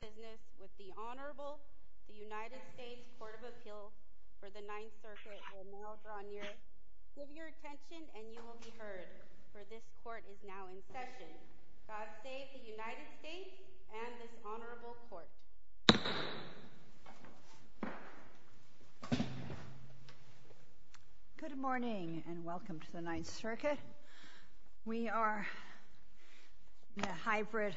Good morning and welcome to the 9th Circuit. We are in a hybrid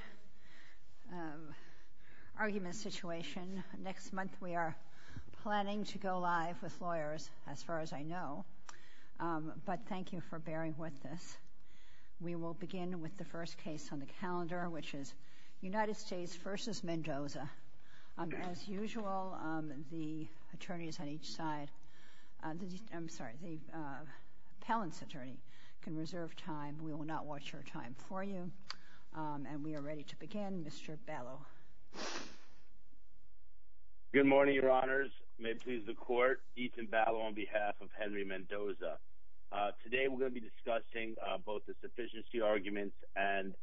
argument situation. Next month we are planning to go live with lawyers, as far as I know, but thank you for bearing with us. We will begin with the first case on the calendar, which is United States v. Mendoza. As usual, the attorneys on each side, I'm sorry, the appellant's attorney, can reserve time. We will not watch your time for you. And we are ready to begin, Mr. Ballo. Good morning, Your Honors. May it please the Court, Ethan Ballo on behalf of Henry Mendoza. Today we're going to be discussing both the sufficiency arguments and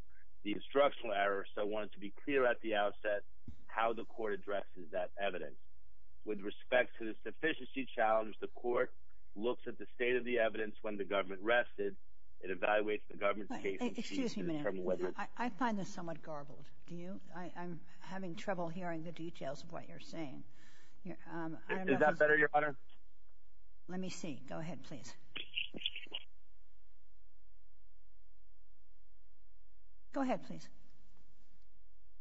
the instructional error. So I wanted to be clear at the outset how the Court addresses that evidence. With respect to the sufficiency challenge, the Court looks at the state of the evidence when the government rested, it evaluates the government's case and sees to determine whether Excuse me a minute. I find this somewhat garbled. Do you? I'm having trouble hearing the details of what you're saying. Is that better, Your Honor? Let me see. Go ahead, please. Go ahead, please.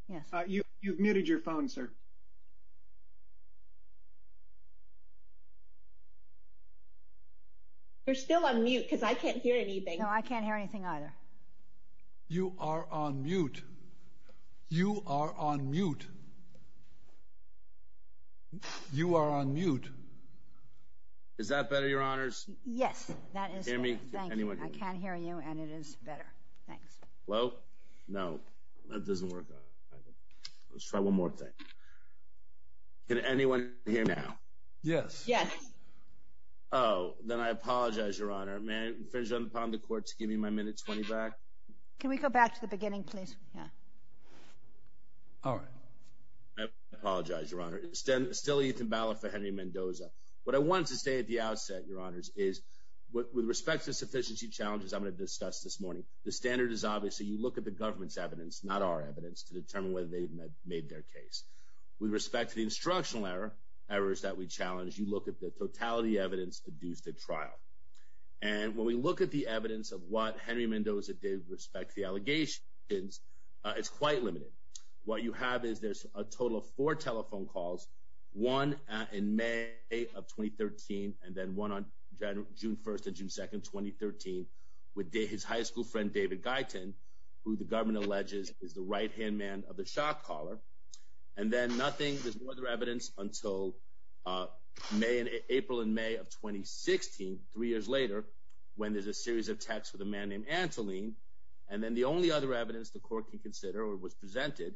Yes. You've muted your phone, sir. You're still on mute because I can't hear anything. No, I can't hear anything either. You are on mute. You are on mute. You are on mute. Is that better, Your Honors? Yes. That is better. Thank you. I can't hear you and it is better. Thanks. Hello? No. That doesn't work. Let's try one more thing. Can anyone hear now? Yes. Yes. Oh, then I apologize, Your Honor. May I finish on the part of the Court to give you my minute 20 back? Can we go back to the beginning, please? Yeah. All right. I apologize, Your Honor. It's still Ethan Ballard for Henry Mendoza. What I wanted to say at the outset, Your Honors, is with respect to sufficiency challenges I'm going to discuss this morning. The standard is obviously you look at the government's evidence, not our evidence, to determine whether they made their case. With respect to the instructional errors that we challenged, you look at the totality evidence deduced at trial. And when we look at the evidence of what Henry Mendoza did with respect to the allegations, it's quite limited. What you have is there's a total of four telephone calls, one in May of 2013 and then one on June 1st and June 2nd, 2013, with his high school friend, David Guyton, who the government alleges is the right-hand man of the shot caller. And then nothing, there's no other evidence until April and May of 2016, three years later, when there's a series of texts with a man named Antoline. And then the only other evidence the Court can consider or was presented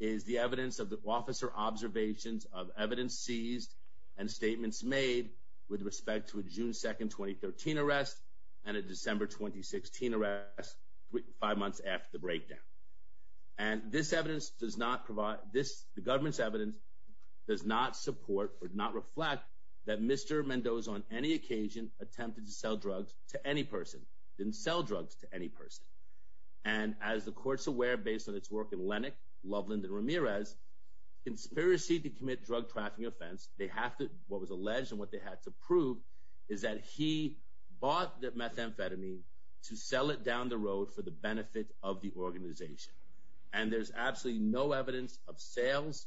is the evidence of the officer observations of evidence seized and statements made with respect to a June 2nd, 2013 arrest and a December 2016 arrest five months after the breakdown. And this evidence does not provide this. The government's evidence does not support or not reflect that Mr. Mendoza, on any occasion, attempted to sell drugs to any person, didn't sell drugs to any person. And as the Court's aware, based on its work in Lennox, Loveland, and Ramirez, conspiracy to commit drug trafficking offense, what was alleged and what they had to prove is that he bought the methamphetamine to sell it down the road for the benefit of the organization. And there's absolutely no evidence of sales.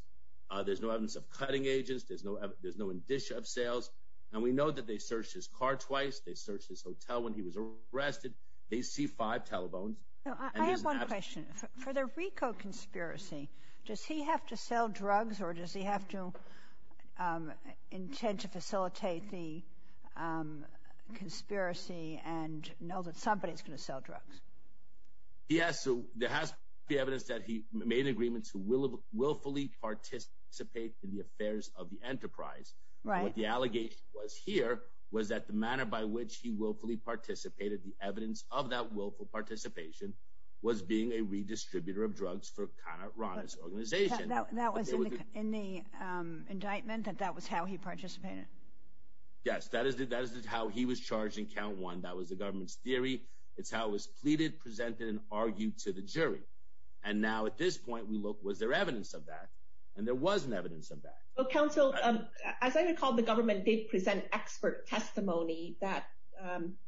There's no evidence of cutting agents. There's no indicia of sales. And we know that they searched his car twice. They searched his hotel when he was arrested. They see five telephones. I have one question. For the Rico conspiracy, does he have to sell drugs or does he have to intend to facilitate the conspiracy and know that somebody's going to sell drugs? Yes, so there has to be evidence that he made agreements to willfully participate in the affairs of the enterprise. What the allegation was here was that the manner by which he willfully participated, the evidence of that willful participation, was being a redistributor of drugs for Conor Rawner's organization. That was in the indictment, that that was how he participated? Yes, that is how he was charged in count one. That was the government's theory. It's how it was pleaded, presented, and argued to the jury. And now at this point, we look, was there evidence of that? And there wasn't evidence of that. Well, counsel, as I recall, the government did present expert testimony that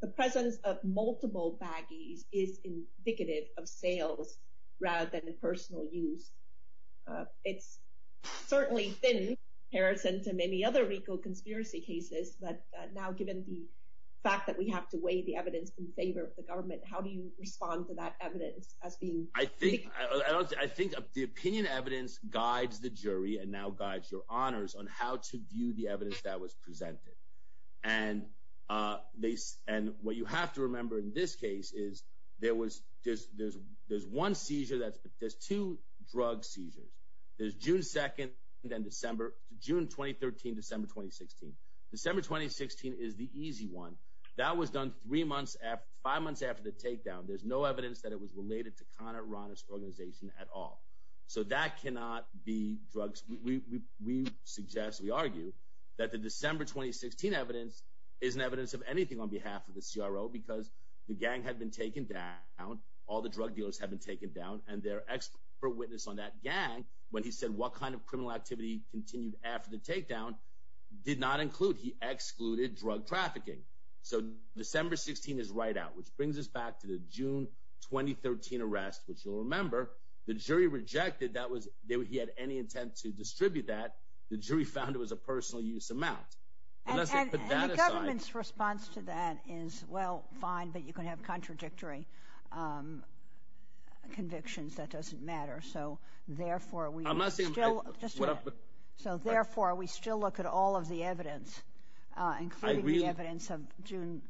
the presence of multiple baggies is indicative of sales rather than personal use. It's certainly thin in comparison to many other Rico conspiracy cases, but now given the fact that we have to weigh the evidence in favor of the government, how do you respond to that evidence as being— I think the opinion evidence guides the jury and now guides your honors on how to view the evidence that was presented. And what you have to remember in this case is there was— there's one seizure that's—there's two drug seizures. There's June 2nd and December—June 2013, December 2016. December 2016 is the easy one. That was done three months after—five months after the takedown. There's no evidence that it was related to Conor Rawner's organization at all. So that cannot be drugs. We suggest, we argue, that the December 2016 evidence isn't evidence of anything on behalf of the CRO because the gang had been taken down, all the drug dealers had been taken down, and their expert witness on that gang, when he said what kind of criminal activity continued after the takedown, did not include—he excluded drug trafficking. So December 16 is right out, which brings us back to the June 2013 arrest, which you'll remember the jury rejected that he had any intent to distribute that. The jury found it was a personal use amount. Unless they put that aside— And the government's response to that is, well, fine, but you can have contradictory convictions. That doesn't matter. So, therefore, we— I'm not saying— Just a minute. So, therefore, we still look at all of the evidence, including the evidence of June—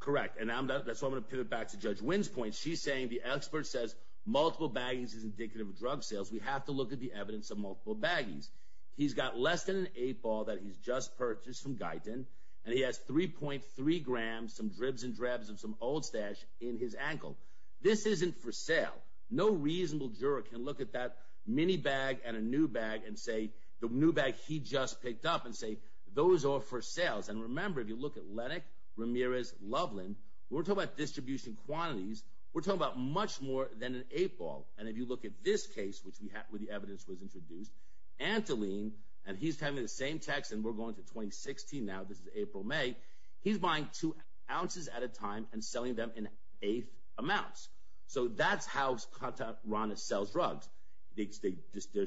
Correct. And that's why I'm going to pivot back to Judge Wynn's point. She's saying the expert says multiple baggies is indicative of drug sales. We have to look at the evidence of multiple baggies. He's got less than an eight ball that he's just purchased from Guyton, and he has 3.3 grams, some dribs and drabs of some Old Stash in his ankle. This isn't for sale. No reasonable juror can look at that mini bag and a new bag and say— the new bag he just picked up and say, those are for sales. And remember, if you look at Lennick, Ramirez, Loveland, we're talking about distribution quantities. We're talking about much more than an eight ball. And if you look at this case, which the evidence was introduced, Antoline—and he's having the same text, and we're going to 2016 now. This is April, May. He's buying two ounces at a time and selling them in eighth amounts. So that's how Skotorana sells drugs. The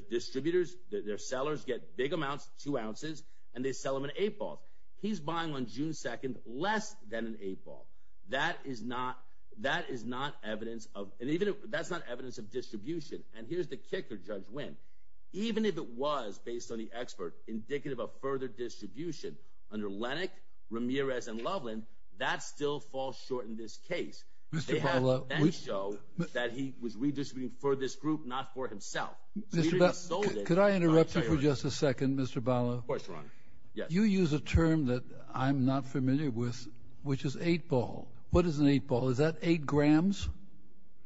distributors, their sellers get big amounts, two ounces, and they sell them in eight balls. He's buying on June 2nd less than an eight ball. That is not evidence of—and that's not evidence of distribution. And here's the kicker, Judge Wynn. Even if it was, based on the expert, indicative of further distribution under Lennick, Ramirez, and Loveland, that still falls short in this case. They have facts show that he was redistributing for this group, not for himself. Could I interrupt you for just a second, Mr. Bala? Of course, Ron. You use a term that I'm not familiar with, which is eight ball. What is an eight ball? Is that eight grams?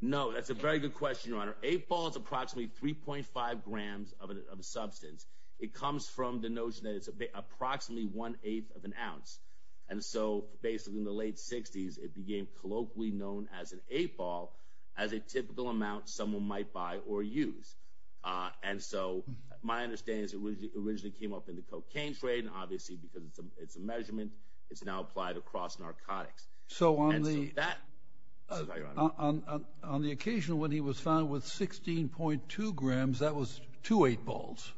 No, that's a very good question, Your Honor. Eight ball is approximately 3.5 grams of a substance. It comes from the notion that it's approximately one-eighth of an ounce. And so, basically, in the late 60s, it became colloquially known as an eight ball as a typical amount someone might buy or use. And so, my understanding is it originally came up in the cocaine trade. And obviously, because it's a measurement, it's now applied across narcotics. So, on the occasion when he was found with 16.2 grams, that was two eight balls?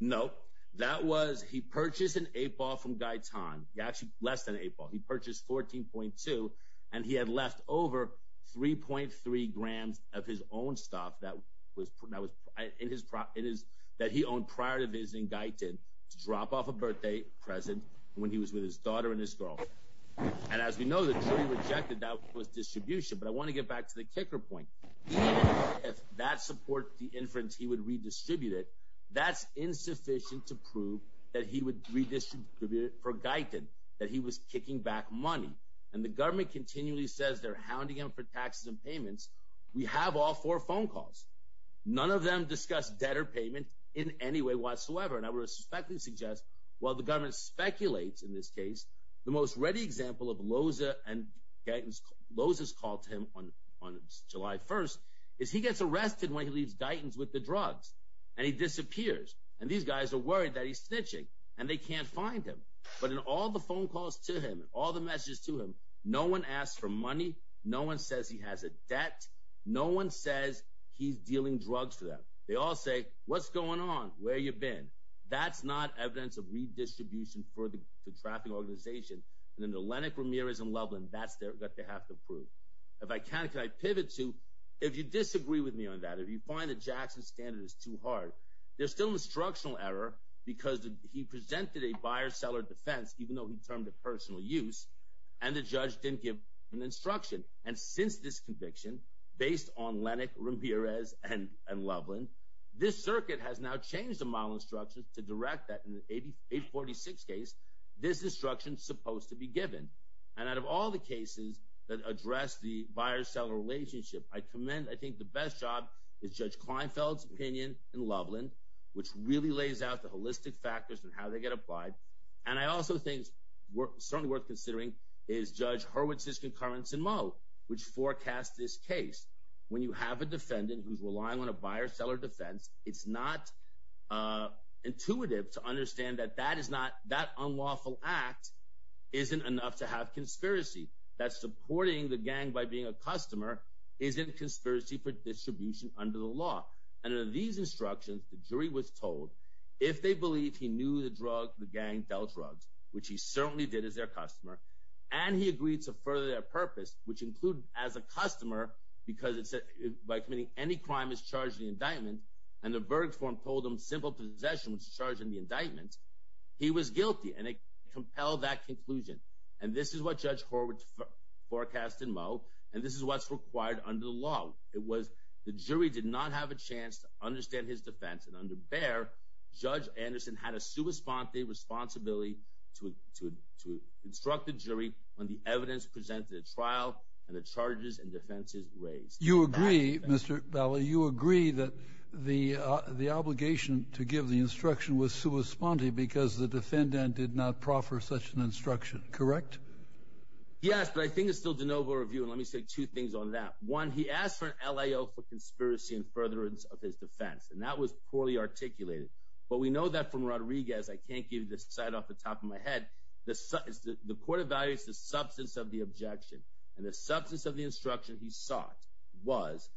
Nope. That was—he purchased an eight ball from Guy Tan. Actually, less than an eight ball. He purchased 14.2, and he had left over 3.3 grams of his own stuff that he owned prior to visiting Guy Tan to drop off a birthday present when he was with his daughter and his girl. And as we know, the jury rejected that with distribution. But I want to get back to the kicker point. Even if that supports the inference he would redistribute it, that's insufficient to prove that he would redistribute it for Guy Tan, that he was kicking back money. And the government continually says they're hounding him for taxes and payments. We have all four phone calls. None of them discuss debt or payment in any way whatsoever. And I would respectfully suggest, while the government speculates in this case, the most ready example of Loza and Guy Tan's—Loza's call to him on July 1st is he gets arrested when he leaves Guy Tan's with the drugs, and he disappears. And these guys are worried that he's snitching, and they can't find him. But in all the phone calls to him, all the messages to him, no one asks for money. No one says he has a debt. No one says he's dealing drugs for them. They all say, what's going on? Where you been? That's not evidence of redistribution for the trafficking organization. And then the Lennox, Ramirez, and Loveland, that's what they have to prove. If I can, can I pivot to, if you disagree with me on that, if you find that Jackson's standard is too hard, there's still an instructional error because he presented a buyer-seller defense, even though he termed it personal use, and the judge didn't give an instruction. And since this conviction, based on Lennox, Ramirez, and Loveland, this circuit has now changed the model instructions to direct that in the 846 case this instruction is supposed to be given. And out of all the cases that address the buyer-seller relationship, I commend I think the best job is Judge Kleinfeld's opinion in Loveland, which really lays out the holistic factors and how they get applied. And I also think it's certainly worth considering is Judge Hurwitz's concurrence in Moe, which forecast this case. When you have a defendant who's relying on a buyer-seller defense, it's not intuitive to understand that that is not, that unlawful act isn't enough to have conspiracy. That supporting the gang by being a customer isn't conspiracy for distribution under the law. And under these instructions, the jury was told if they believe he knew the drug the gang dealt drugs, which he certainly did as their customer, and he agreed to further their purpose, which included as a customer, because it said by committing any crime is charged in the indictment, and the verdict form told him simple possession was charged in the indictment, he was guilty. And it compelled that conclusion. And this is what Judge Hurwitz forecast in Moe, and this is what's required under the law. It was the jury did not have a chance to understand his defense, and under Bayer, Judge Anderson had a sua sponte responsibility to instruct the jury on the evidence presented at trial and the charges and defenses raised. You agree, Mr. Bally, you agree that the obligation to give the instruction was sua sponte because the defendant did not proffer such an instruction, correct? Yes, but I think it's still de novo review, and let me say two things on that. One, he asked for an LAO for conspiracy and furtherance of his defense, and that was poorly articulated. But we know that from Rodriguez, I can't give this side off the top of my head, the court evaluates the substance of the objection, and the substance of the instruction he sought was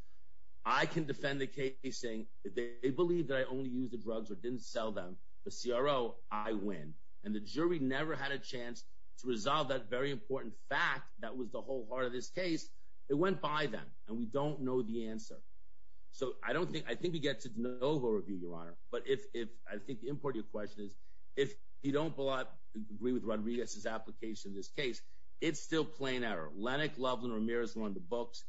I can defend the case saying they believe that I only used the drugs or didn't sell them, but CRO, I win. And the jury never had a chance to resolve that very important fact that was the whole heart of this case. It went by then, and we don't know the answer. So I don't think, I think we get to de novo review, Your Honor, but I think the important question is if you don't agree with Rodriguez's application in this case, it's still plain error. Lennox, Loveland, Ramirez were on the books.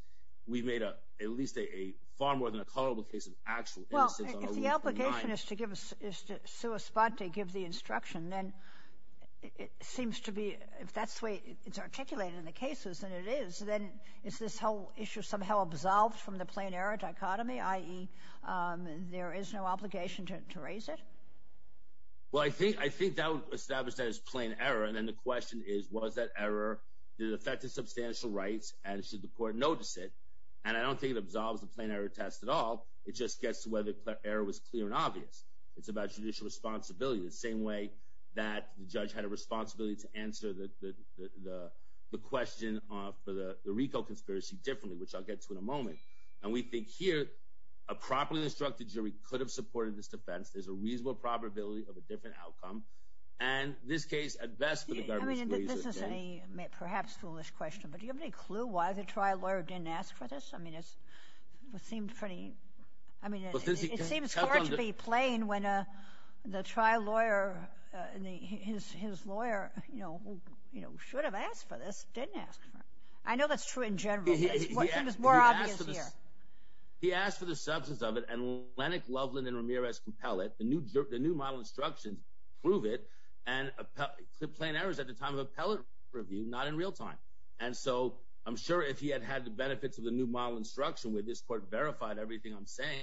We made a, at least a far more than a culpable case of actual innocence on August 29th. Well, if the obligation is to sue a spot to give the instruction, then it seems to be, if that's the way it's articulated in the cases, and it is, then is this whole issue somehow absolved from the plain error dichotomy, i.e. there is no obligation to raise it? Well, I think, I think that would establish that as plain error. And then the question is, was that error, did it affect the substantial rights, and should the court notice it? And I don't think it absolves the plain error test at all. It just gets to whether the error was clear and obvious. It's about judicial responsibility, the same way that the judge had a responsibility to answer the question for the RICO conspiracy differently, which I'll get to in a moment. And we think here, a properly instructed jury could have supported this defense. There's a reasonable probability of a different outcome. And this case, at best, for the government's good. I mean, this is a perhaps foolish question, but do you have any clue why the trial lawyer didn't ask for this? I mean, it seemed pretty, I mean, it seems hard to be plain when the trial lawyer, his lawyer, you know, should have asked for this, didn't ask for it. I know that's true in general. He asked for the substance of it, and Lennox, Loveland, and Ramirez compel it. The new model instructions prove it. And plain error is at the time of appellate review, not in real time. And so I'm sure if he had had the benefits of the new model instruction where this court verified everything I'm saying,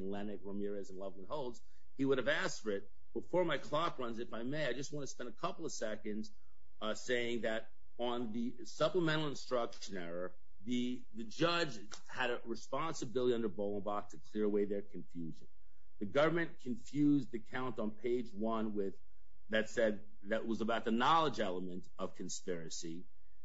Lennox, Ramirez, and Loveland holds, he would have asked for it. Before my clock runs, if I may, I just want to spend a couple of seconds saying that on the supplemental instruction error, the judge had a responsibility under Bohlenbach to clear away their confusion. The government confused the count on page one with, that said, that was about the knowledge element of conspiracy.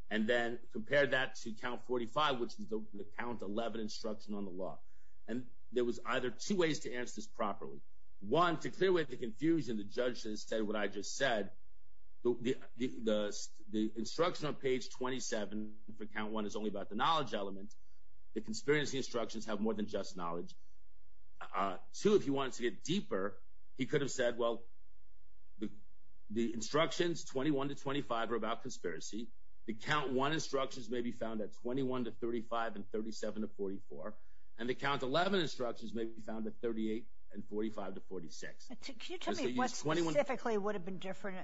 And then compared that to count 45, which is the count 11 instruction on the law. And there was either two ways to answer this properly. One, to clear away the confusion, the judge said what I just said. The instruction on page 27 for count one is only about the knowledge element. The conspiracy instructions have more than just knowledge. Two, if he wanted to get deeper, he could have said, well, the instructions 21 to 25 are about conspiracy. The count one instructions may be found at 21 to 35 and 37 to 44. And the count 11 instructions may be found at 38 and 45 to 46. Can you tell me what specifically would have been different?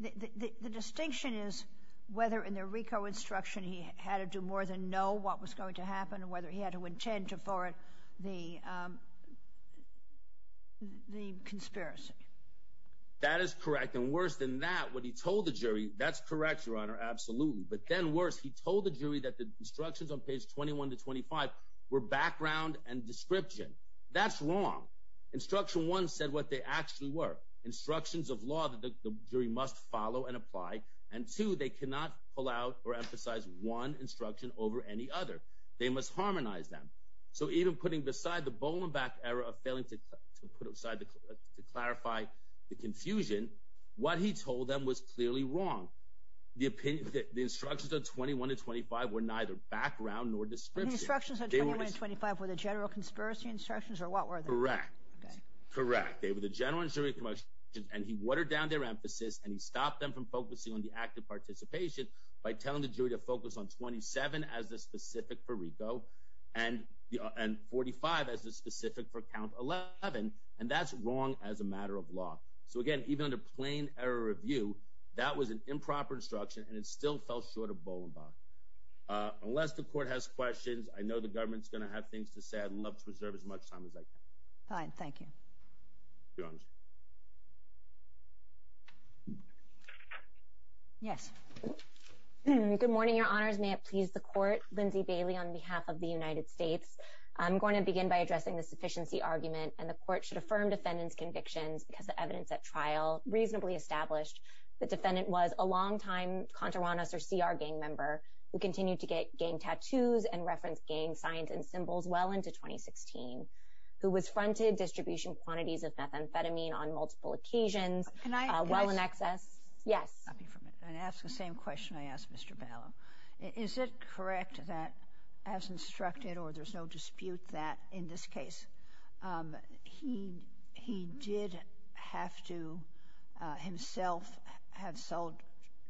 The distinction is whether in the RICO instruction he had to do more than know what was going to happen and whether he had to intend to forward the conspiracy. That is correct. And worse than that, what he told the jury, that's correct, Your Honor, absolutely. But then worse, he told the jury that the instructions on page 21 to 25 were background and description. That's wrong. Instruction one said what they actually were, instructions of law that the jury must follow and apply. And two, they cannot pull out or emphasize one instruction over any other. They must harmonize them. So even putting beside the Bolenbach error of failing to put aside to clarify the confusion, what he told them was clearly wrong. The instructions on 21 to 25 were neither background nor description. The instructions on 21 to 25 were the general conspiracy instructions or what were they? Correct. Correct. They were the general and jury instructions. And he watered down their emphasis and he stopped them from focusing on the act of participation by telling the jury to focus on 27 as the specific for RICO and 45 as the specific for count 11. And that's wrong as a matter of law. So, again, even under plain error of view, that was an improper instruction and it still fell short of Bolenbach. Unless the court has questions, I know the government's going to have things to say. I'd love to reserve as much time as I can. Fine. Thank you. Your Honor. Yes. Good morning, Your Honors. May it please the court. Lindsay Bailey on behalf of the United States. I'm going to begin by addressing the sufficiency argument. And the court should affirm defendant's convictions because the evidence at trial reasonably established the defendant was a long-time Contouranus or CR gang member who continued to get gang tattoos and reference gang signs and symbols well into 2016. Who was fronted distribution quantities of methamphetamine on multiple occasions. Can I? While in excess. Yes. And ask the same question I asked Mr. Balow. Is it correct that as instructed or there's no dispute that in this case he did have to himself have sold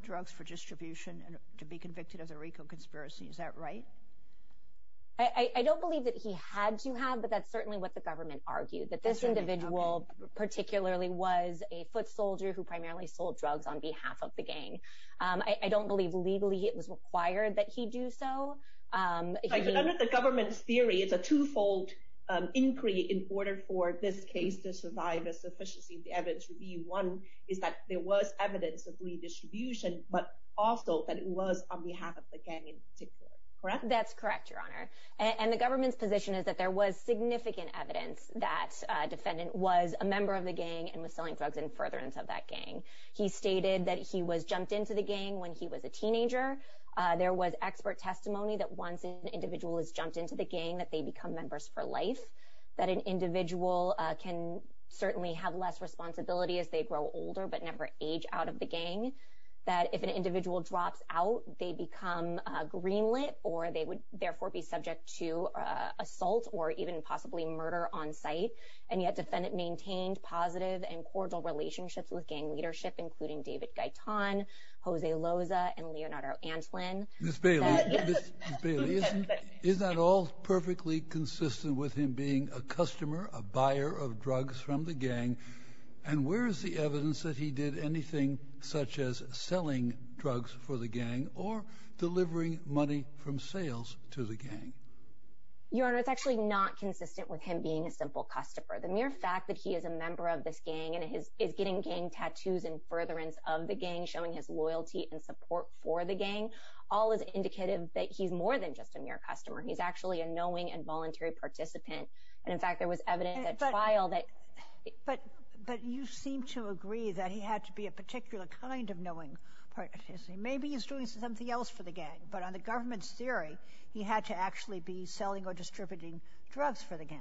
drugs for distribution to be convicted of the Rico conspiracy? Is that right? I don't believe that he had to have, but that's certainly what the government argued. That this individual particularly was a foot soldier who primarily sold drugs on behalf of the gang. I don't believe legally. It was required that he do so. The government's theory is a twofold inquiry in order for this case to survive a sufficiency. The evidence would be one is that there was evidence of redistribution, but also that it was on behalf of the gang in particular. Correct. That's correct, Your Honor. And the government's position is that there was significant evidence that defendant was a member of the gang and was selling drugs in furtherance of that gang. He stated that he was jumped into the gang when he was a teenager. There was expert testimony that once an individual is jumped into the gang that they become members for life. That an individual can certainly have less responsibility as they grow older but never age out of the gang. That if an individual drops out, they become greenlit or they would therefore be subject to assault or even possibly murder on site. And yet defendant maintained positive and cordial relationships with gang leadership including David Gaitan, Jose Loza, and Leonardo Antlin. Ms. Bailey, is that all perfectly consistent with him being a customer, a buyer of drugs from the gang? And where is the evidence that he did anything such as selling drugs for the gang or delivering money from sales to the gang? Your Honor, it's actually not consistent with him being a simple customer. The mere fact that he is a member of this gang and is getting gang tattoos in furtherance of the gang, showing his loyalty and support for the gang, all is indicative that he's more than just a mere customer. He's actually a knowing and voluntary participant. And in fact, there was evidence at trial that… But you seem to agree that he had to be a particular kind of knowing participant. Maybe he's doing something else for the gang. But on the government's theory, he had to actually be selling or distributing drugs for the gang.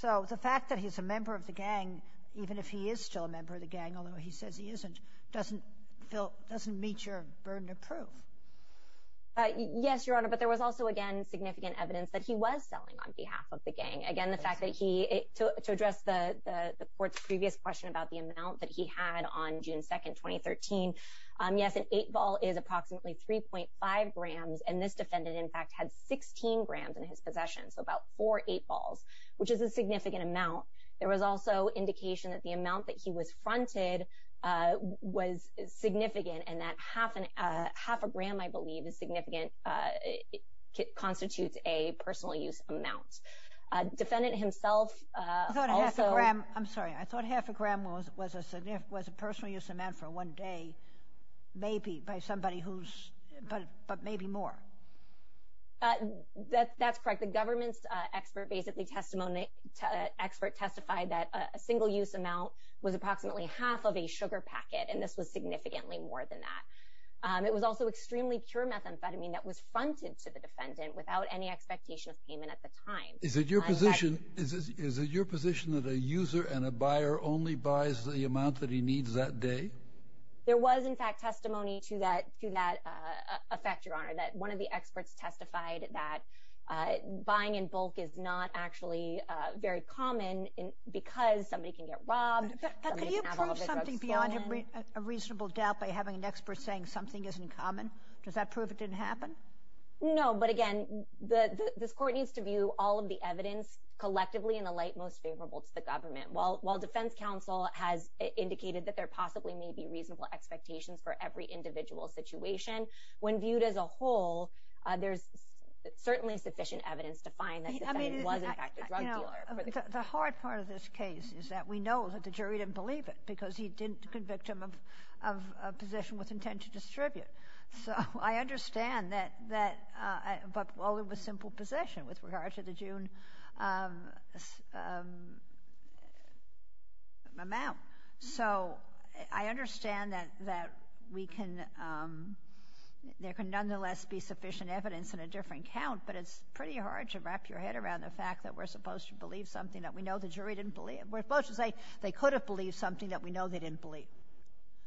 So the fact that he's a member of the gang, even if he is still a member of the gang, although he says he isn't, doesn't meet your burden of proof. Yes, Your Honor. But there was also, again, significant evidence that he was selling on behalf of the gang. Again, the fact that he… To address the court's previous question about the amount that he had on June 2, 2013, yes, an eight ball is approximately 3.5 grams. And this defendant, in fact, had 16 grams in his possession, so about four eight balls, which is a significant amount. There was also indication that the amount that he was fronted was significant and that half a gram, I believe, is significant, constitutes a personal use amount. Defendant himself also… I'm sorry. I thought half a gram was a personal use amount for one day, maybe, by somebody who's… but maybe more. That's correct. The government's expert basically testified that a single use amount was approximately half of a sugar packet, and this was significantly more than that. It was also extremely pure methamphetamine that was fronted to the defendant without any expectation of payment at the time. Is it your position that a user and a buyer only buys the amount that he needs that day? There was, in fact, testimony to that effect, Your Honor, that one of the experts testified that buying in bulk is not actually very common because somebody can get robbed. Could you prove something beyond a reasonable doubt by having an expert saying something isn't common? Does that prove it didn't happen? No, but again, this court needs to view all of the evidence collectively in the light most favorable to the government. While Defense Counsel has indicated that there possibly may be reasonable expectations for every individual situation, when viewed as a whole, there's certainly sufficient evidence to find that the defendant was, in fact, a drug dealer. The hard part of this case is that we know that the jury didn't believe it because he didn't convict him of possession with intent to distribute. So I understand that, but, well, it was simple possession with regard to the June amount. So I understand that there can nonetheless be sufficient evidence in a different count, but it's pretty hard to wrap your head around the fact that we're supposed to believe something that we know the jury didn't believe. We're supposed to say they could have believed something that we know they didn't believe.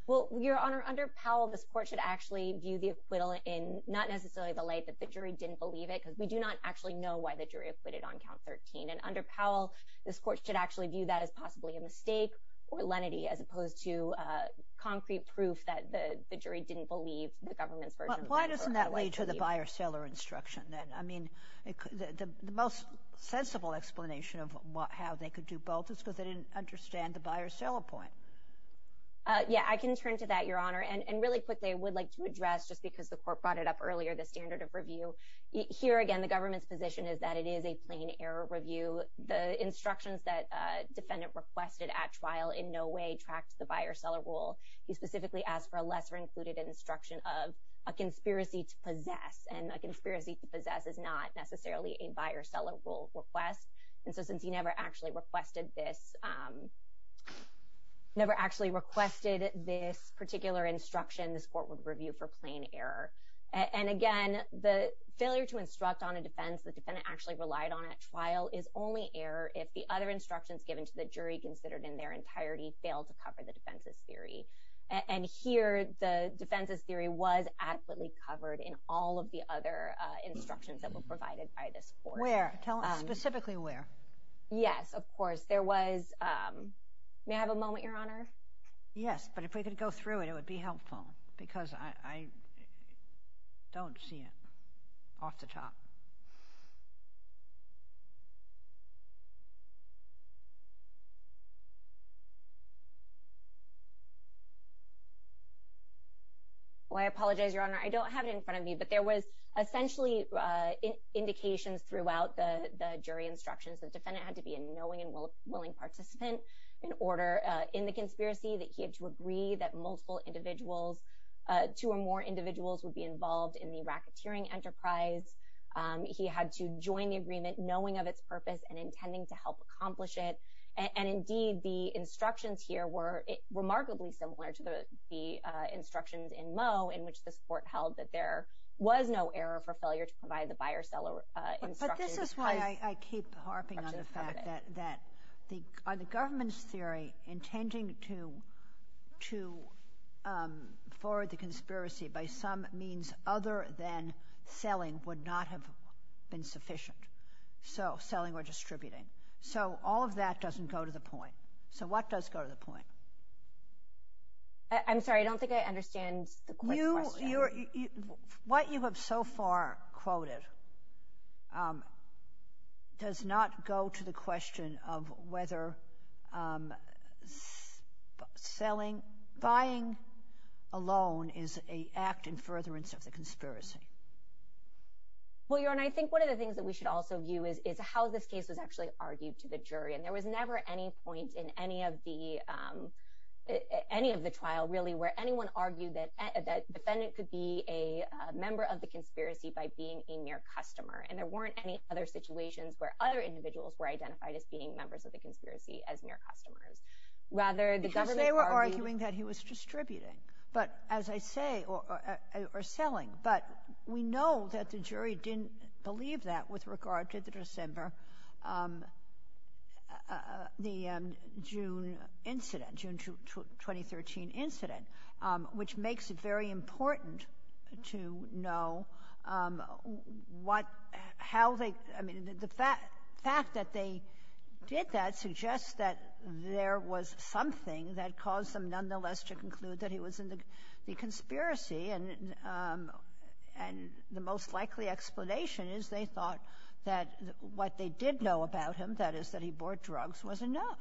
Well, Your Honor, under Powell, this court should actually view the acquittal in not necessarily the light that the jury didn't believe it because we do not actually know why the jury acquitted on count 13. And under Powell, this court should actually view that as possibly a mistake or lenity as opposed to concrete proof that the jury didn't believe the government's version of the law. But why doesn't that lead to the buy or sell instruction then? I mean, the most sensible explanation of how they could do both is because they didn't understand the buy or sell point. Yeah, I can turn to that, Your Honor. And really quickly, I would like to address, just because the court brought it up earlier, the standard of review. Here, again, the government's position is that it is a plain error review. The instructions that a defendant requested at trial in no way tracked the buy or sell rule. He specifically asked for a lesser-included instruction of a conspiracy to possess, and a conspiracy to possess is not necessarily a buy or sell rule request. And so since he never actually requested this particular instruction, this court would review for plain error. And again, the failure to instruct on a defense the defendant actually relied on at trial is only error if the other instructions given to the jury considered in their entirety fail to cover the defense's theory. And here, the defense's theory was adequately covered in all of the other instructions that were provided by this court. Where? Tell us specifically where. Yes, of course. There was – may I have a moment, Your Honor? Yes, but if we could go through it, it would be helpful, because I don't see it off the top. Well, I apologize, Your Honor. I don't have it in front of me, but there was essentially indications throughout the jury instructions. The defendant had to be a knowing and willing participant in order in the conspiracy that he had to agree that multiple individuals, two or more individuals, would be involved in the racketeering enterprise. He had to join the agreement knowing of its purpose and intending to help accomplish it. And indeed, the instructions here were remarkably similar to the instructions in Moe in which this court held that there was no error for failure to provide the buyer-seller instructions. This is why I keep harping on the fact that on the government's theory, intending to forward the conspiracy by some means other than selling would not have been sufficient. So, selling or distributing. So, all of that doesn't go to the point. So, what does go to the point? I'm sorry. I don't think I understand the question. What you have so far quoted does not go to the question of whether buying alone is an act in furtherance of the conspiracy. Well, Your Honor, I think one of the things that we should also view is how this case was actually argued to the jury. And there was never any point in any of the trial, really, where anyone argued that the defendant could be a member of the conspiracy by being a mere customer. And there weren't any other situations where other individuals were identified as being members of the conspiracy as mere customers. Rather, the government argued— But, as I say, or selling. But we know that the jury didn't believe that with regard to the December — the June incident, June 2013 incident, which makes it very important to know what — how they — I mean, the fact that they did that suggests that there was something that caused them, nonetheless, to conclude that he was in the government. The conspiracy and the most likely explanation is they thought that what they did know about him, that is, that he bought drugs, was enough.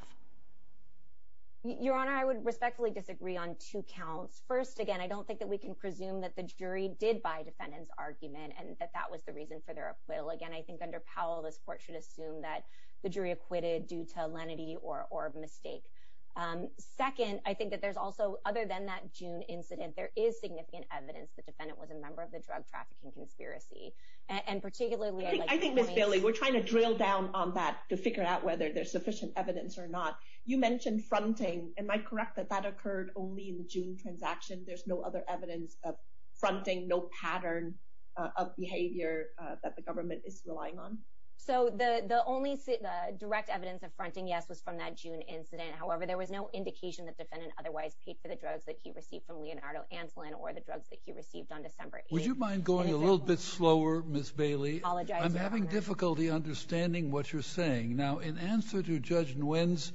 Your Honor, I would respectfully disagree on two counts. First, again, I don't think that we can presume that the jury did buy the defendant's argument and that that was the reason for their acquittal. Again, I think under Powell, this Court should assume that the jury acquitted due to lenity or mistake. Second, I think that there's also, other than that June incident, there is significant evidence the defendant was a member of the drug trafficking conspiracy. And particularly— I think, Ms. Bailey, we're trying to drill down on that to figure out whether there's sufficient evidence or not. You mentioned fronting. Am I correct that that occurred only in the June transaction? There's no other evidence of fronting, no pattern of behavior that the government is relying on? So, the only direct evidence of fronting, yes, was from that June incident. However, there was no indication that the defendant otherwise paid for the drugs that he received from Leonardo Anselin or the drugs that he received on December 8. Would you mind going a little bit slower, Ms. Bailey? Apologize, Your Honor. I'm having difficulty understanding what you're saying. Now, in answer to Judge Nguyen's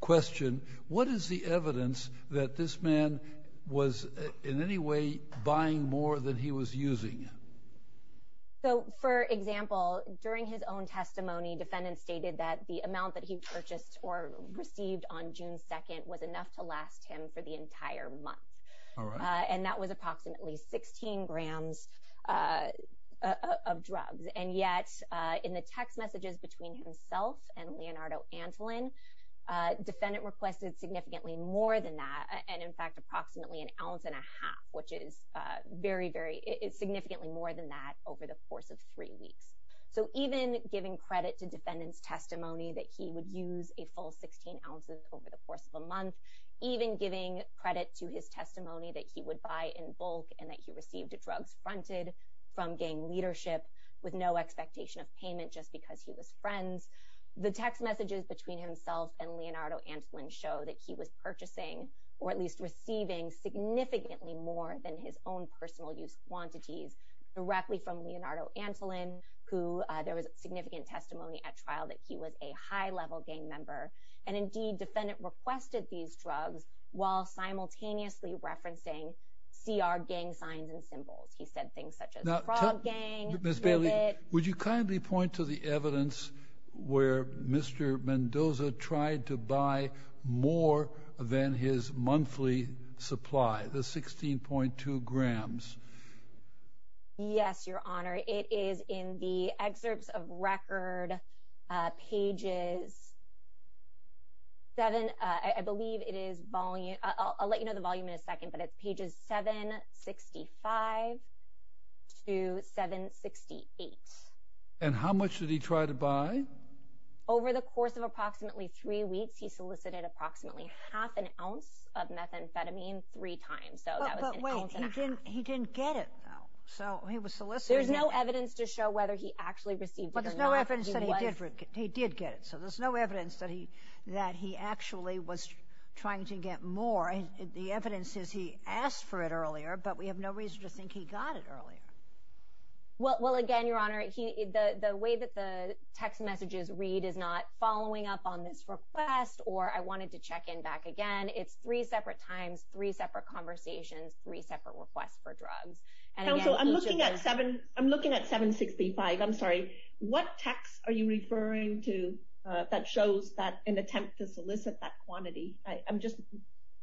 question, what is the evidence that this man was in any way buying more than he was using? So, for example, during his own testimony, defendant stated that the amount that he purchased or received on June 2nd was enough to last him for the entire month. And that was approximately 16 grams of drugs. And yet, in the text messages between himself and Leonardo Anselin, defendant requested significantly more than that. And, in fact, approximately an ounce and a half, which is significantly more than that over the course of three weeks. So, even giving credit to defendant's testimony that he would use a full 16 ounces over the course of a month, even giving credit to his testimony that he would buy in bulk and that he received drugs fronted from gang leadership with no expectation of payment just because he was friends, the text messages between himself and Leonardo Anselin show that he was purchasing, or at least receiving, significantly more than his own personal use quantities directly from Leonardo Anselin, who there was significant testimony at trial that he was a high-level gang member. And, indeed, defendant requested these drugs while simultaneously referencing CR gang signs and symbols. He said things such as Frog Gang. Ms. Bailey, would you kindly point to the evidence where Mr. Mendoza tried to buy more than his monthly supply, the 16.2 grams? Yes, Your Honor. It is in the excerpts of record, pages 7. I believe it is volume. I'll let you know the volume in a second. But it's pages 765 to 768. And how much did he try to buy? Over the course of approximately three weeks, he solicited approximately half an ounce of methamphetamine three times. So, that was an ounce and a half. But, wait, he didn't get it, though. So, he was soliciting. There's no evidence to show whether he actually received it or not. But there's no evidence that he did get it. So, there's no evidence that he actually was trying to get more. The evidence is he asked for it earlier, but we have no reason to think he got it earlier. Well, again, Your Honor, the way that the text messages read is not following up on this request or I wanted to check in back again. It's three separate times, three separate conversations, three separate requests for drugs. Counsel, I'm looking at 765. I'm sorry. What text are you referring to that shows an attempt to solicit that quantity?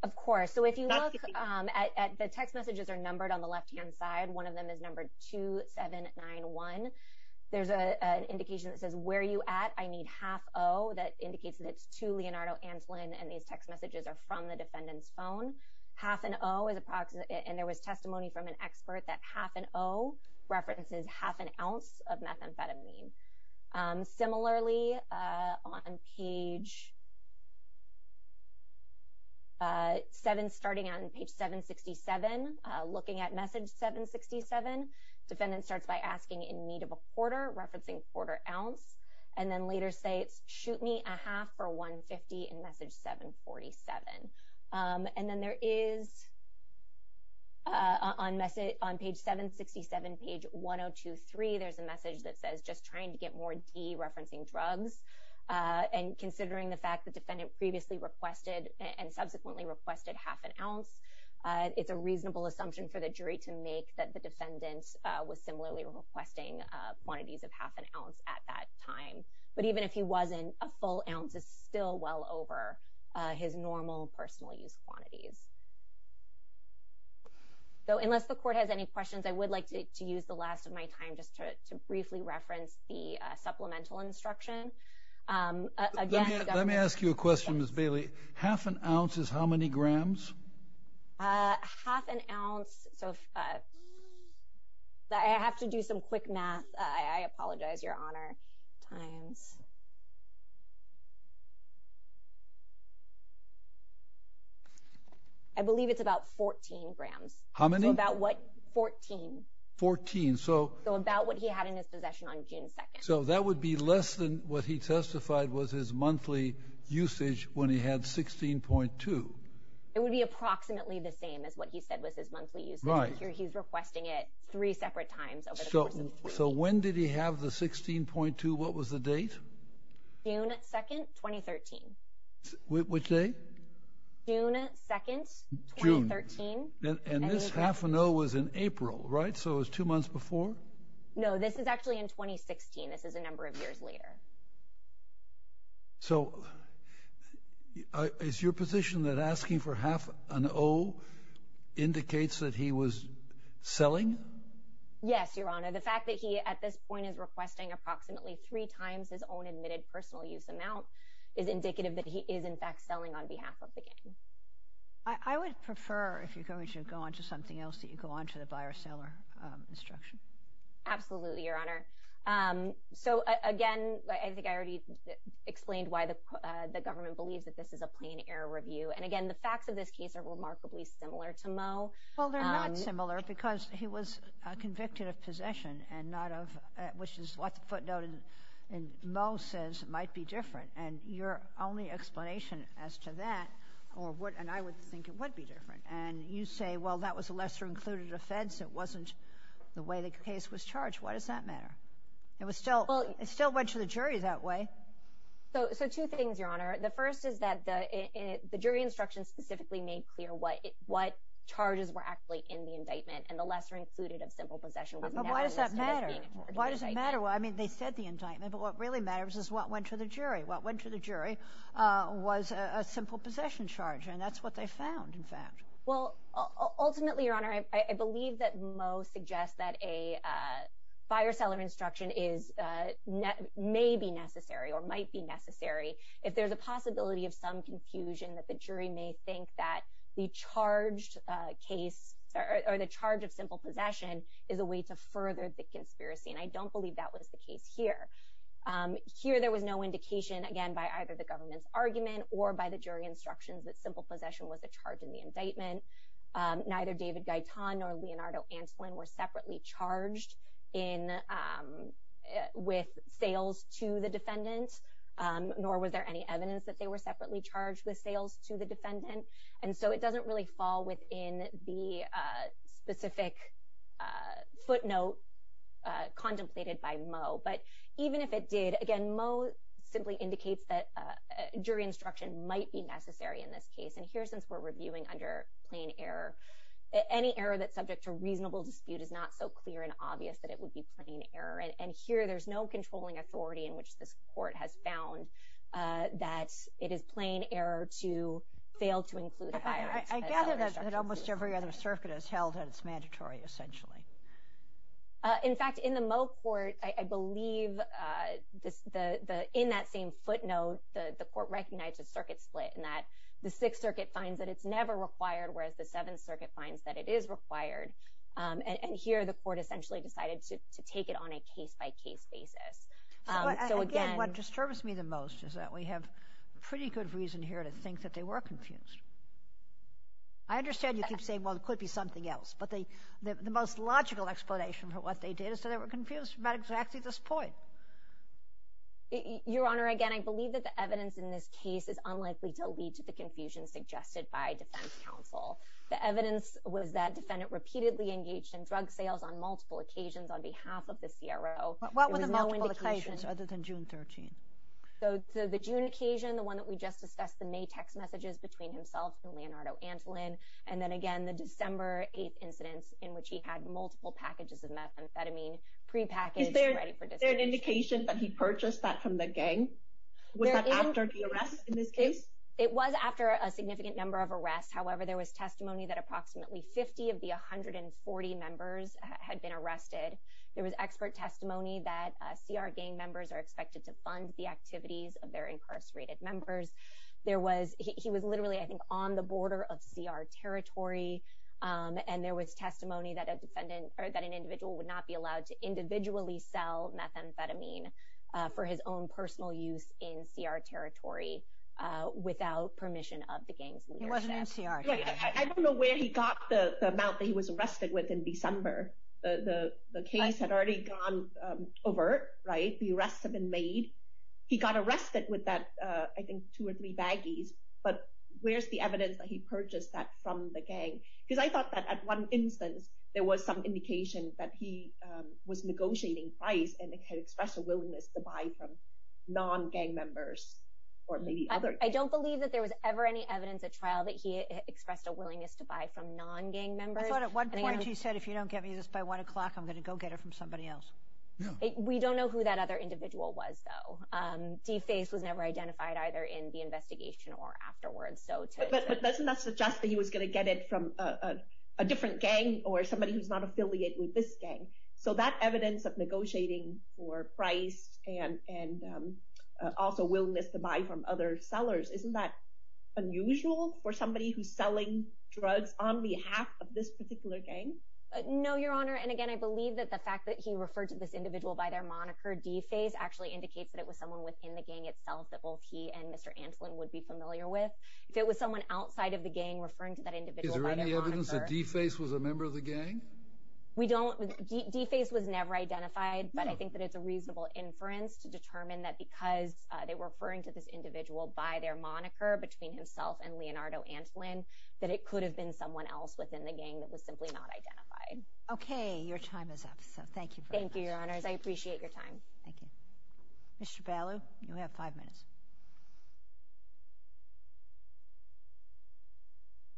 Of course. So, if you look, the text messages are numbered on the left-hand side. One of them is numbered 2791. There's an indication that says, Where are you at? I need half O. That indicates that it's to Leonardo Anslin, and these text messages are from the defendant's phone. Half an O, and there was testimony from an expert that half an O references half an ounce of methamphetamine. Similarly, on page 7, starting on page 767, looking at message 767, defendant starts by asking in need of a quarter, referencing quarter ounce, and then later states, Shoot me a half for 150 in message 747. And then there is, on page 767, page 1023, there's a message that says, Just trying to get more D, referencing drugs. And considering the fact the defendant previously requested and subsequently requested half an ounce, it's a reasonable assumption for the jury to make that the defendant was similarly requesting quantities of half an ounce at that time. But even if he wasn't, a full ounce is still well over his normal personal use quantities. So unless the court has any questions, I would like to use the last of my time just to briefly reference the supplemental instruction. Let me ask you a question, Ms. Bailey. Half an ounce is how many grams? Half an ounce. I have to do some quick math. I apologize, Your Honor. I believe it's about 14 grams. How many? About what? 14. 14. So about what he had in his possession on June 2nd. So that would be less than what he testified was his monthly usage when he had 16.2. It would be approximately the same as what he said was his monthly usage. Right. He's requesting it three separate times. So when did he have the 16.2? What was the date? June 2nd, 2013. Which date? June 2nd, 2013. And this half an ounce was in April, right? So it was two months before? No, this is actually in 2016. This is a number of years later. So is your position that asking for half an ounce indicates that he was selling? Yes, Your Honor. The fact that he at this point is requesting approximately three times his own admitted personal use amount is indicative that he is in fact selling on behalf of the gang. I would prefer, if you're going to go on to something else, that you go on to the buyer-seller instruction. Absolutely, Your Honor. So, again, I think I already explained why the government believes that this is a plain error review. And, again, the facts of this case are remarkably similar to Moe. Well, they're not similar because he was convicted of possession, which is what the footnote in Moe says might be different. And your only explanation as to that, and I would think it would be different, and you say, well, that was a lesser-included offense. It wasn't the way the case was charged. Why does that matter? It still went to the jury that way. So two things, Your Honor. The first is that the jury instruction specifically made clear what charges were actually in the indictment, and the lesser-included of simple possession was now listed as being a charge of the indictment. But why does that matter? Why does it matter? Well, I mean, they said the indictment, but what really matters is what went to the jury. What went to the jury was a simple possession charge, and that's what they found, in fact. Well, ultimately, Your Honor, I believe that Moe suggests that a fire seller instruction may be necessary or might be necessary if there's a possibility of some confusion that the jury may think that the charge of simple possession is a way to further the conspiracy. And I don't believe that was the case here. Here, there was no indication, again, by either the government's argument or by the jury instructions, that simple possession was a charge in the indictment. Neither David Gaetan nor Leonardo Antolin were separately charged with sales to the defendant, nor was there any evidence that they were separately charged with sales to the defendant. And so it doesn't really fall within the specific footnote contemplated by Moe. But even if it did, again, Moe simply indicates that jury instruction might be necessary in this case. And here, since we're reviewing under plain error, any error that's subject to reasonable dispute is not so clear and obvious that it would be plain error. And here, there's no controlling authority in which this Court has found that it is plain error to fail to include a fire seller instruction. I gather that almost every other circuit has held that it's mandatory, essentially. In fact, in the Moe court, I believe in that same footnote, the court recognized a circuit split, in that the Sixth Circuit finds that it's never required, whereas the Seventh Circuit finds that it is required. And here, the court essentially decided to take it on a case-by-case basis. So, again— Again, what disturbs me the most is that we have pretty good reason here to think that they were confused. I understand you keep saying, well, it could be something else. But the most logical explanation for what they did is that they were confused about exactly this point. Your Honor, again, I believe that the evidence in this case is unlikely to lead to the confusion suggested by defense counsel. The evidence was that defendant repeatedly engaged in drug sales on multiple occasions on behalf of the CRO. What were the multiple occasions other than June 13th? So, the June occasion, the one that we just discussed, the May text messages between himself and Leonardo Antolin, and then, again, the December 8th incidents in which he had multiple packages of methamphetamine prepackaged and ready for distribution. Is there an indication that he purchased that from the gang? Was that after the arrest in this case? It was after a significant number of arrests. However, there was testimony that approximately 50 of the 140 members had been arrested. There was expert testimony that CR gang members are expected to fund the activities of their incarcerated members. He was literally, I think, on the border of CR territory. And there was testimony that an individual would not be allowed to individually sell methamphetamine for his own personal use in CR territory without permission of the gang's leadership. He wasn't in CR territory. I don't know where he got the amount that he was arrested with in December. The case had already gone overt, right? The arrests had been made. He got arrested with that, I think, two or three baggies. But where's the evidence that he purchased that from the gang? Because I thought that at one instance, there was some indication that he was negotiating price and expressed a willingness to buy from non-gang members or maybe others. I don't believe that there was ever any evidence at trial that he expressed a willingness to buy from non-gang members. I thought at one point he said, if you don't get me this by 1 o'clock, I'm going to go get it from somebody else. We don't know who that other individual was, though. DeFace was never identified either in the investigation or afterwards. But doesn't that suggest that he was going to get it from a different gang or somebody who's not affiliated with this gang? So that evidence of negotiating for price and also willingness to buy from other sellers, isn't that unusual for somebody who's selling drugs on behalf of this particular gang? No, Your Honor. And again, I believe that the fact that he referred to this individual by their moniker, DeFace, actually indicates that it was someone within the gang itself that both he and Mr. Antlin would be familiar with. If it was someone outside of the gang referring to that individual by their moniker— Is there any evidence that DeFace was a member of the gang? We don't—DeFace was never identified, but I think that it's a reasonable inference to determine that because they were referring to this individual by their moniker between himself and Leonardo Antlin, that it could have been someone else within the gang that was simply not identified. Okay, your time is up, so thank you very much. Thank you, Your Honors. I appreciate your time. Thank you. Mr. Bailu, you have five minutes.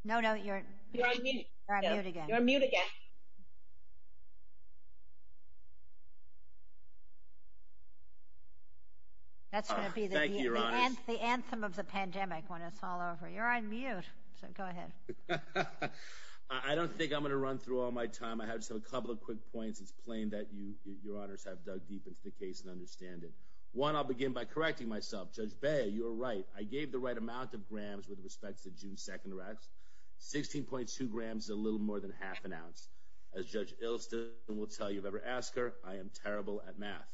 No, no, you're— You're on mute. You're on mute again. You're on mute again. Thank you, Your Honors. That's going to be the anthem of the pandemic when it's all over. You're on mute, so go ahead. I don't think I'm going to run through all my time. I have just a couple of quick points. It's plain that you, Your Honors, have dug deep into the case and understand it. One, I'll begin by correcting myself. Judge Bailu, you were right. I gave the right amount of grams with respect to June 2nd arrest. Sixteen point two grams is a little more than half an ounce. As Judge Ilston will tell you if you've ever asked her, I am terrible at math.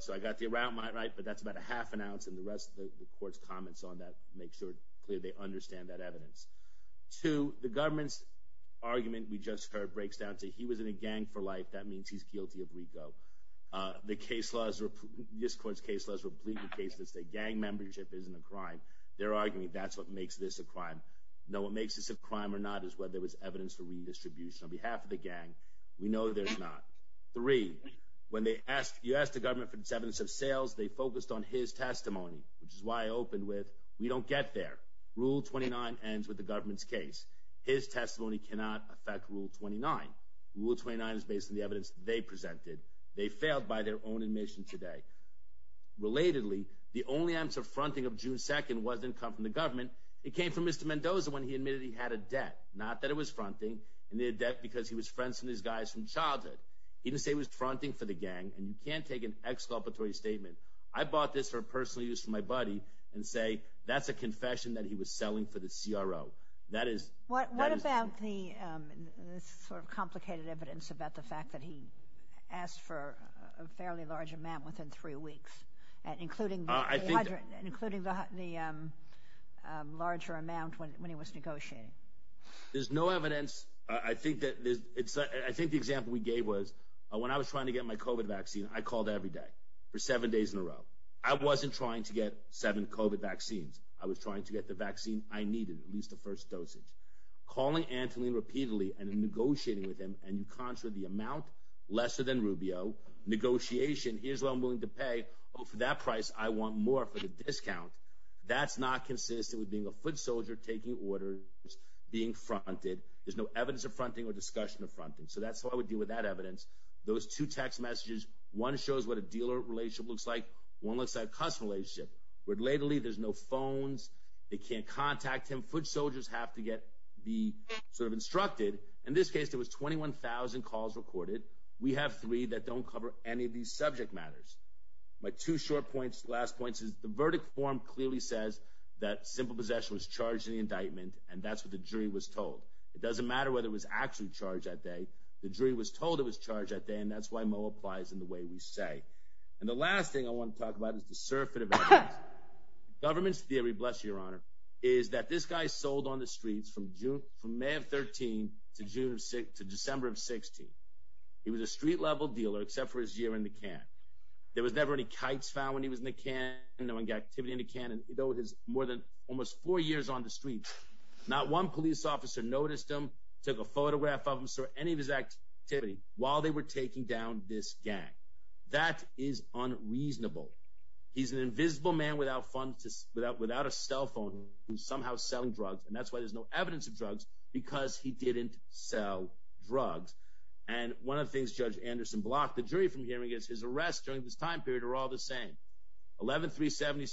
So I got the amount right, but that's about a half an ounce, and the rest of the Court's comments on that make sure clearly they understand that evidence. Two, the government's argument we just heard breaks down to he was in a gang for life. That means he's guilty of RICO. The case law is—this Court's case law is replete with cases that say gang membership isn't a crime. They're arguing that's what makes this a crime. No, what makes this a crime or not is whether there was evidence for redistribution on behalf of the gang. We know there's not. Three, when you asked the government for its evidence of sales, they focused on his testimony, which is why I opened with we don't get there. Rule 29 ends with the government's case. His testimony cannot affect Rule 29. Rule 29 is based on the evidence they presented. They failed by their own admission today. Relatedly, the only evidence of fronting of June 2nd wasn't coming from the government. It came from Mr. Mendoza when he admitted he had a debt. Not that it was fronting. It was a debt because he was friends with these guys from childhood. He didn't say it was fronting for the gang, and you can't take an exculpatory statement. I bought this for personal use for my buddy and say that's a confession that he was selling for the CRO. That is— What about the sort of complicated evidence about the fact that he asked for a fairly large amount within three weeks, including the larger amount when he was negotiating? There's no evidence. I think the example we gave was when I was trying to get my COVID vaccine, I called every day for seven days in a row. I wasn't trying to get seven COVID vaccines. I was trying to get the vaccine I needed, at least the first dosage. Calling Anthony repeatedly and negotiating with him, and you can't show the amount, lesser than Rubio, negotiation, here's what I'm willing to pay. Oh, for that price, I want more for the discount. That's not consistent with being a foot soldier, taking orders, being fronted. There's no evidence of fronting or discussion of fronting. So that's how I would deal with that evidence. Those two text messages, one shows what a dealer relationship looks like, one looks like a customer relationship. Relatedly, there's no phones. They can't contact him. Foot soldiers have to get—be sort of instructed. In this case, there was 21,000 calls recorded. We have three that don't cover any of these subject matters. My two short points, last points, is the verdict form clearly says that Simple Possession was charged in the indictment, and that's what the jury was told. It doesn't matter whether it was actually charged that day. The jury was told it was charged that day, and that's why Mo applies in the way we say. And the last thing I want to talk about is the surfeit of evidence. Government's theory, bless you, Your Honor, is that this guy sold on the streets from May of 2013 to December of 2016. He was a street-level dealer except for his year in the can. There was never any kites found when he was in the can, no activity in the can, and though he was more than almost four years on the streets, not one police officer noticed him, took a photograph of him, saw any of his activity while they were taking down this gang. That is unreasonable. He's an invisible man without a cell phone who's somehow selling drugs, and that's why there's no evidence of drugs, because he didn't sell drugs. And one of the things Judge Anderson blocked the jury from hearing is his arrests during this time period are all the same, 11-377,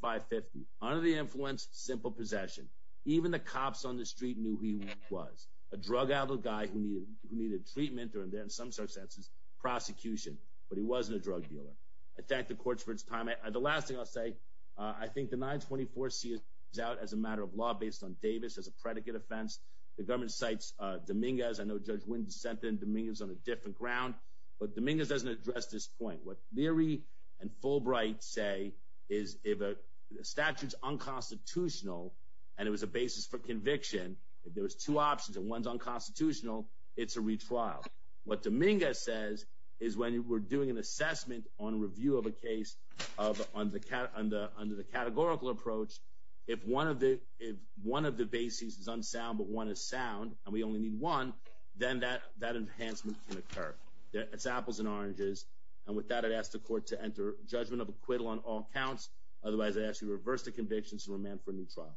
11-550, under the influence, Simple Possession. Even the cops on the street knew who he was, a drug-addled guy who needed treatment or, in some circumstances, prosecution, but he wasn't a drug dealer. I thank the court for its time. The last thing I'll say, I think the 924 sees out as a matter of law based on Davis as a predicate offense. The government cites Dominguez. I know Judge Wynne dissented and Dominguez is on a different ground, but Dominguez doesn't address this point. What Leary and Fulbright say is if a statute's unconstitutional and it was a basis for conviction, if there was two options and one's unconstitutional, it's a retrial. What Dominguez says is when we're doing an assessment on review of a case under the categorical approach, if one of the bases is unsound but one is sound and we only need one, then that enhancement can occur. It's apples and oranges. And with that, I'd ask the court to enter judgment of acquittal on all counts. Otherwise, I'd ask you to reverse the convictions and remand for a new trial.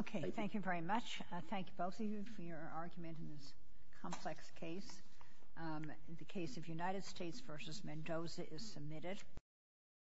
Okay. Thank you very much. I thank both of you for your argument in this complex case. The case of United States v. Mendoza is submitted.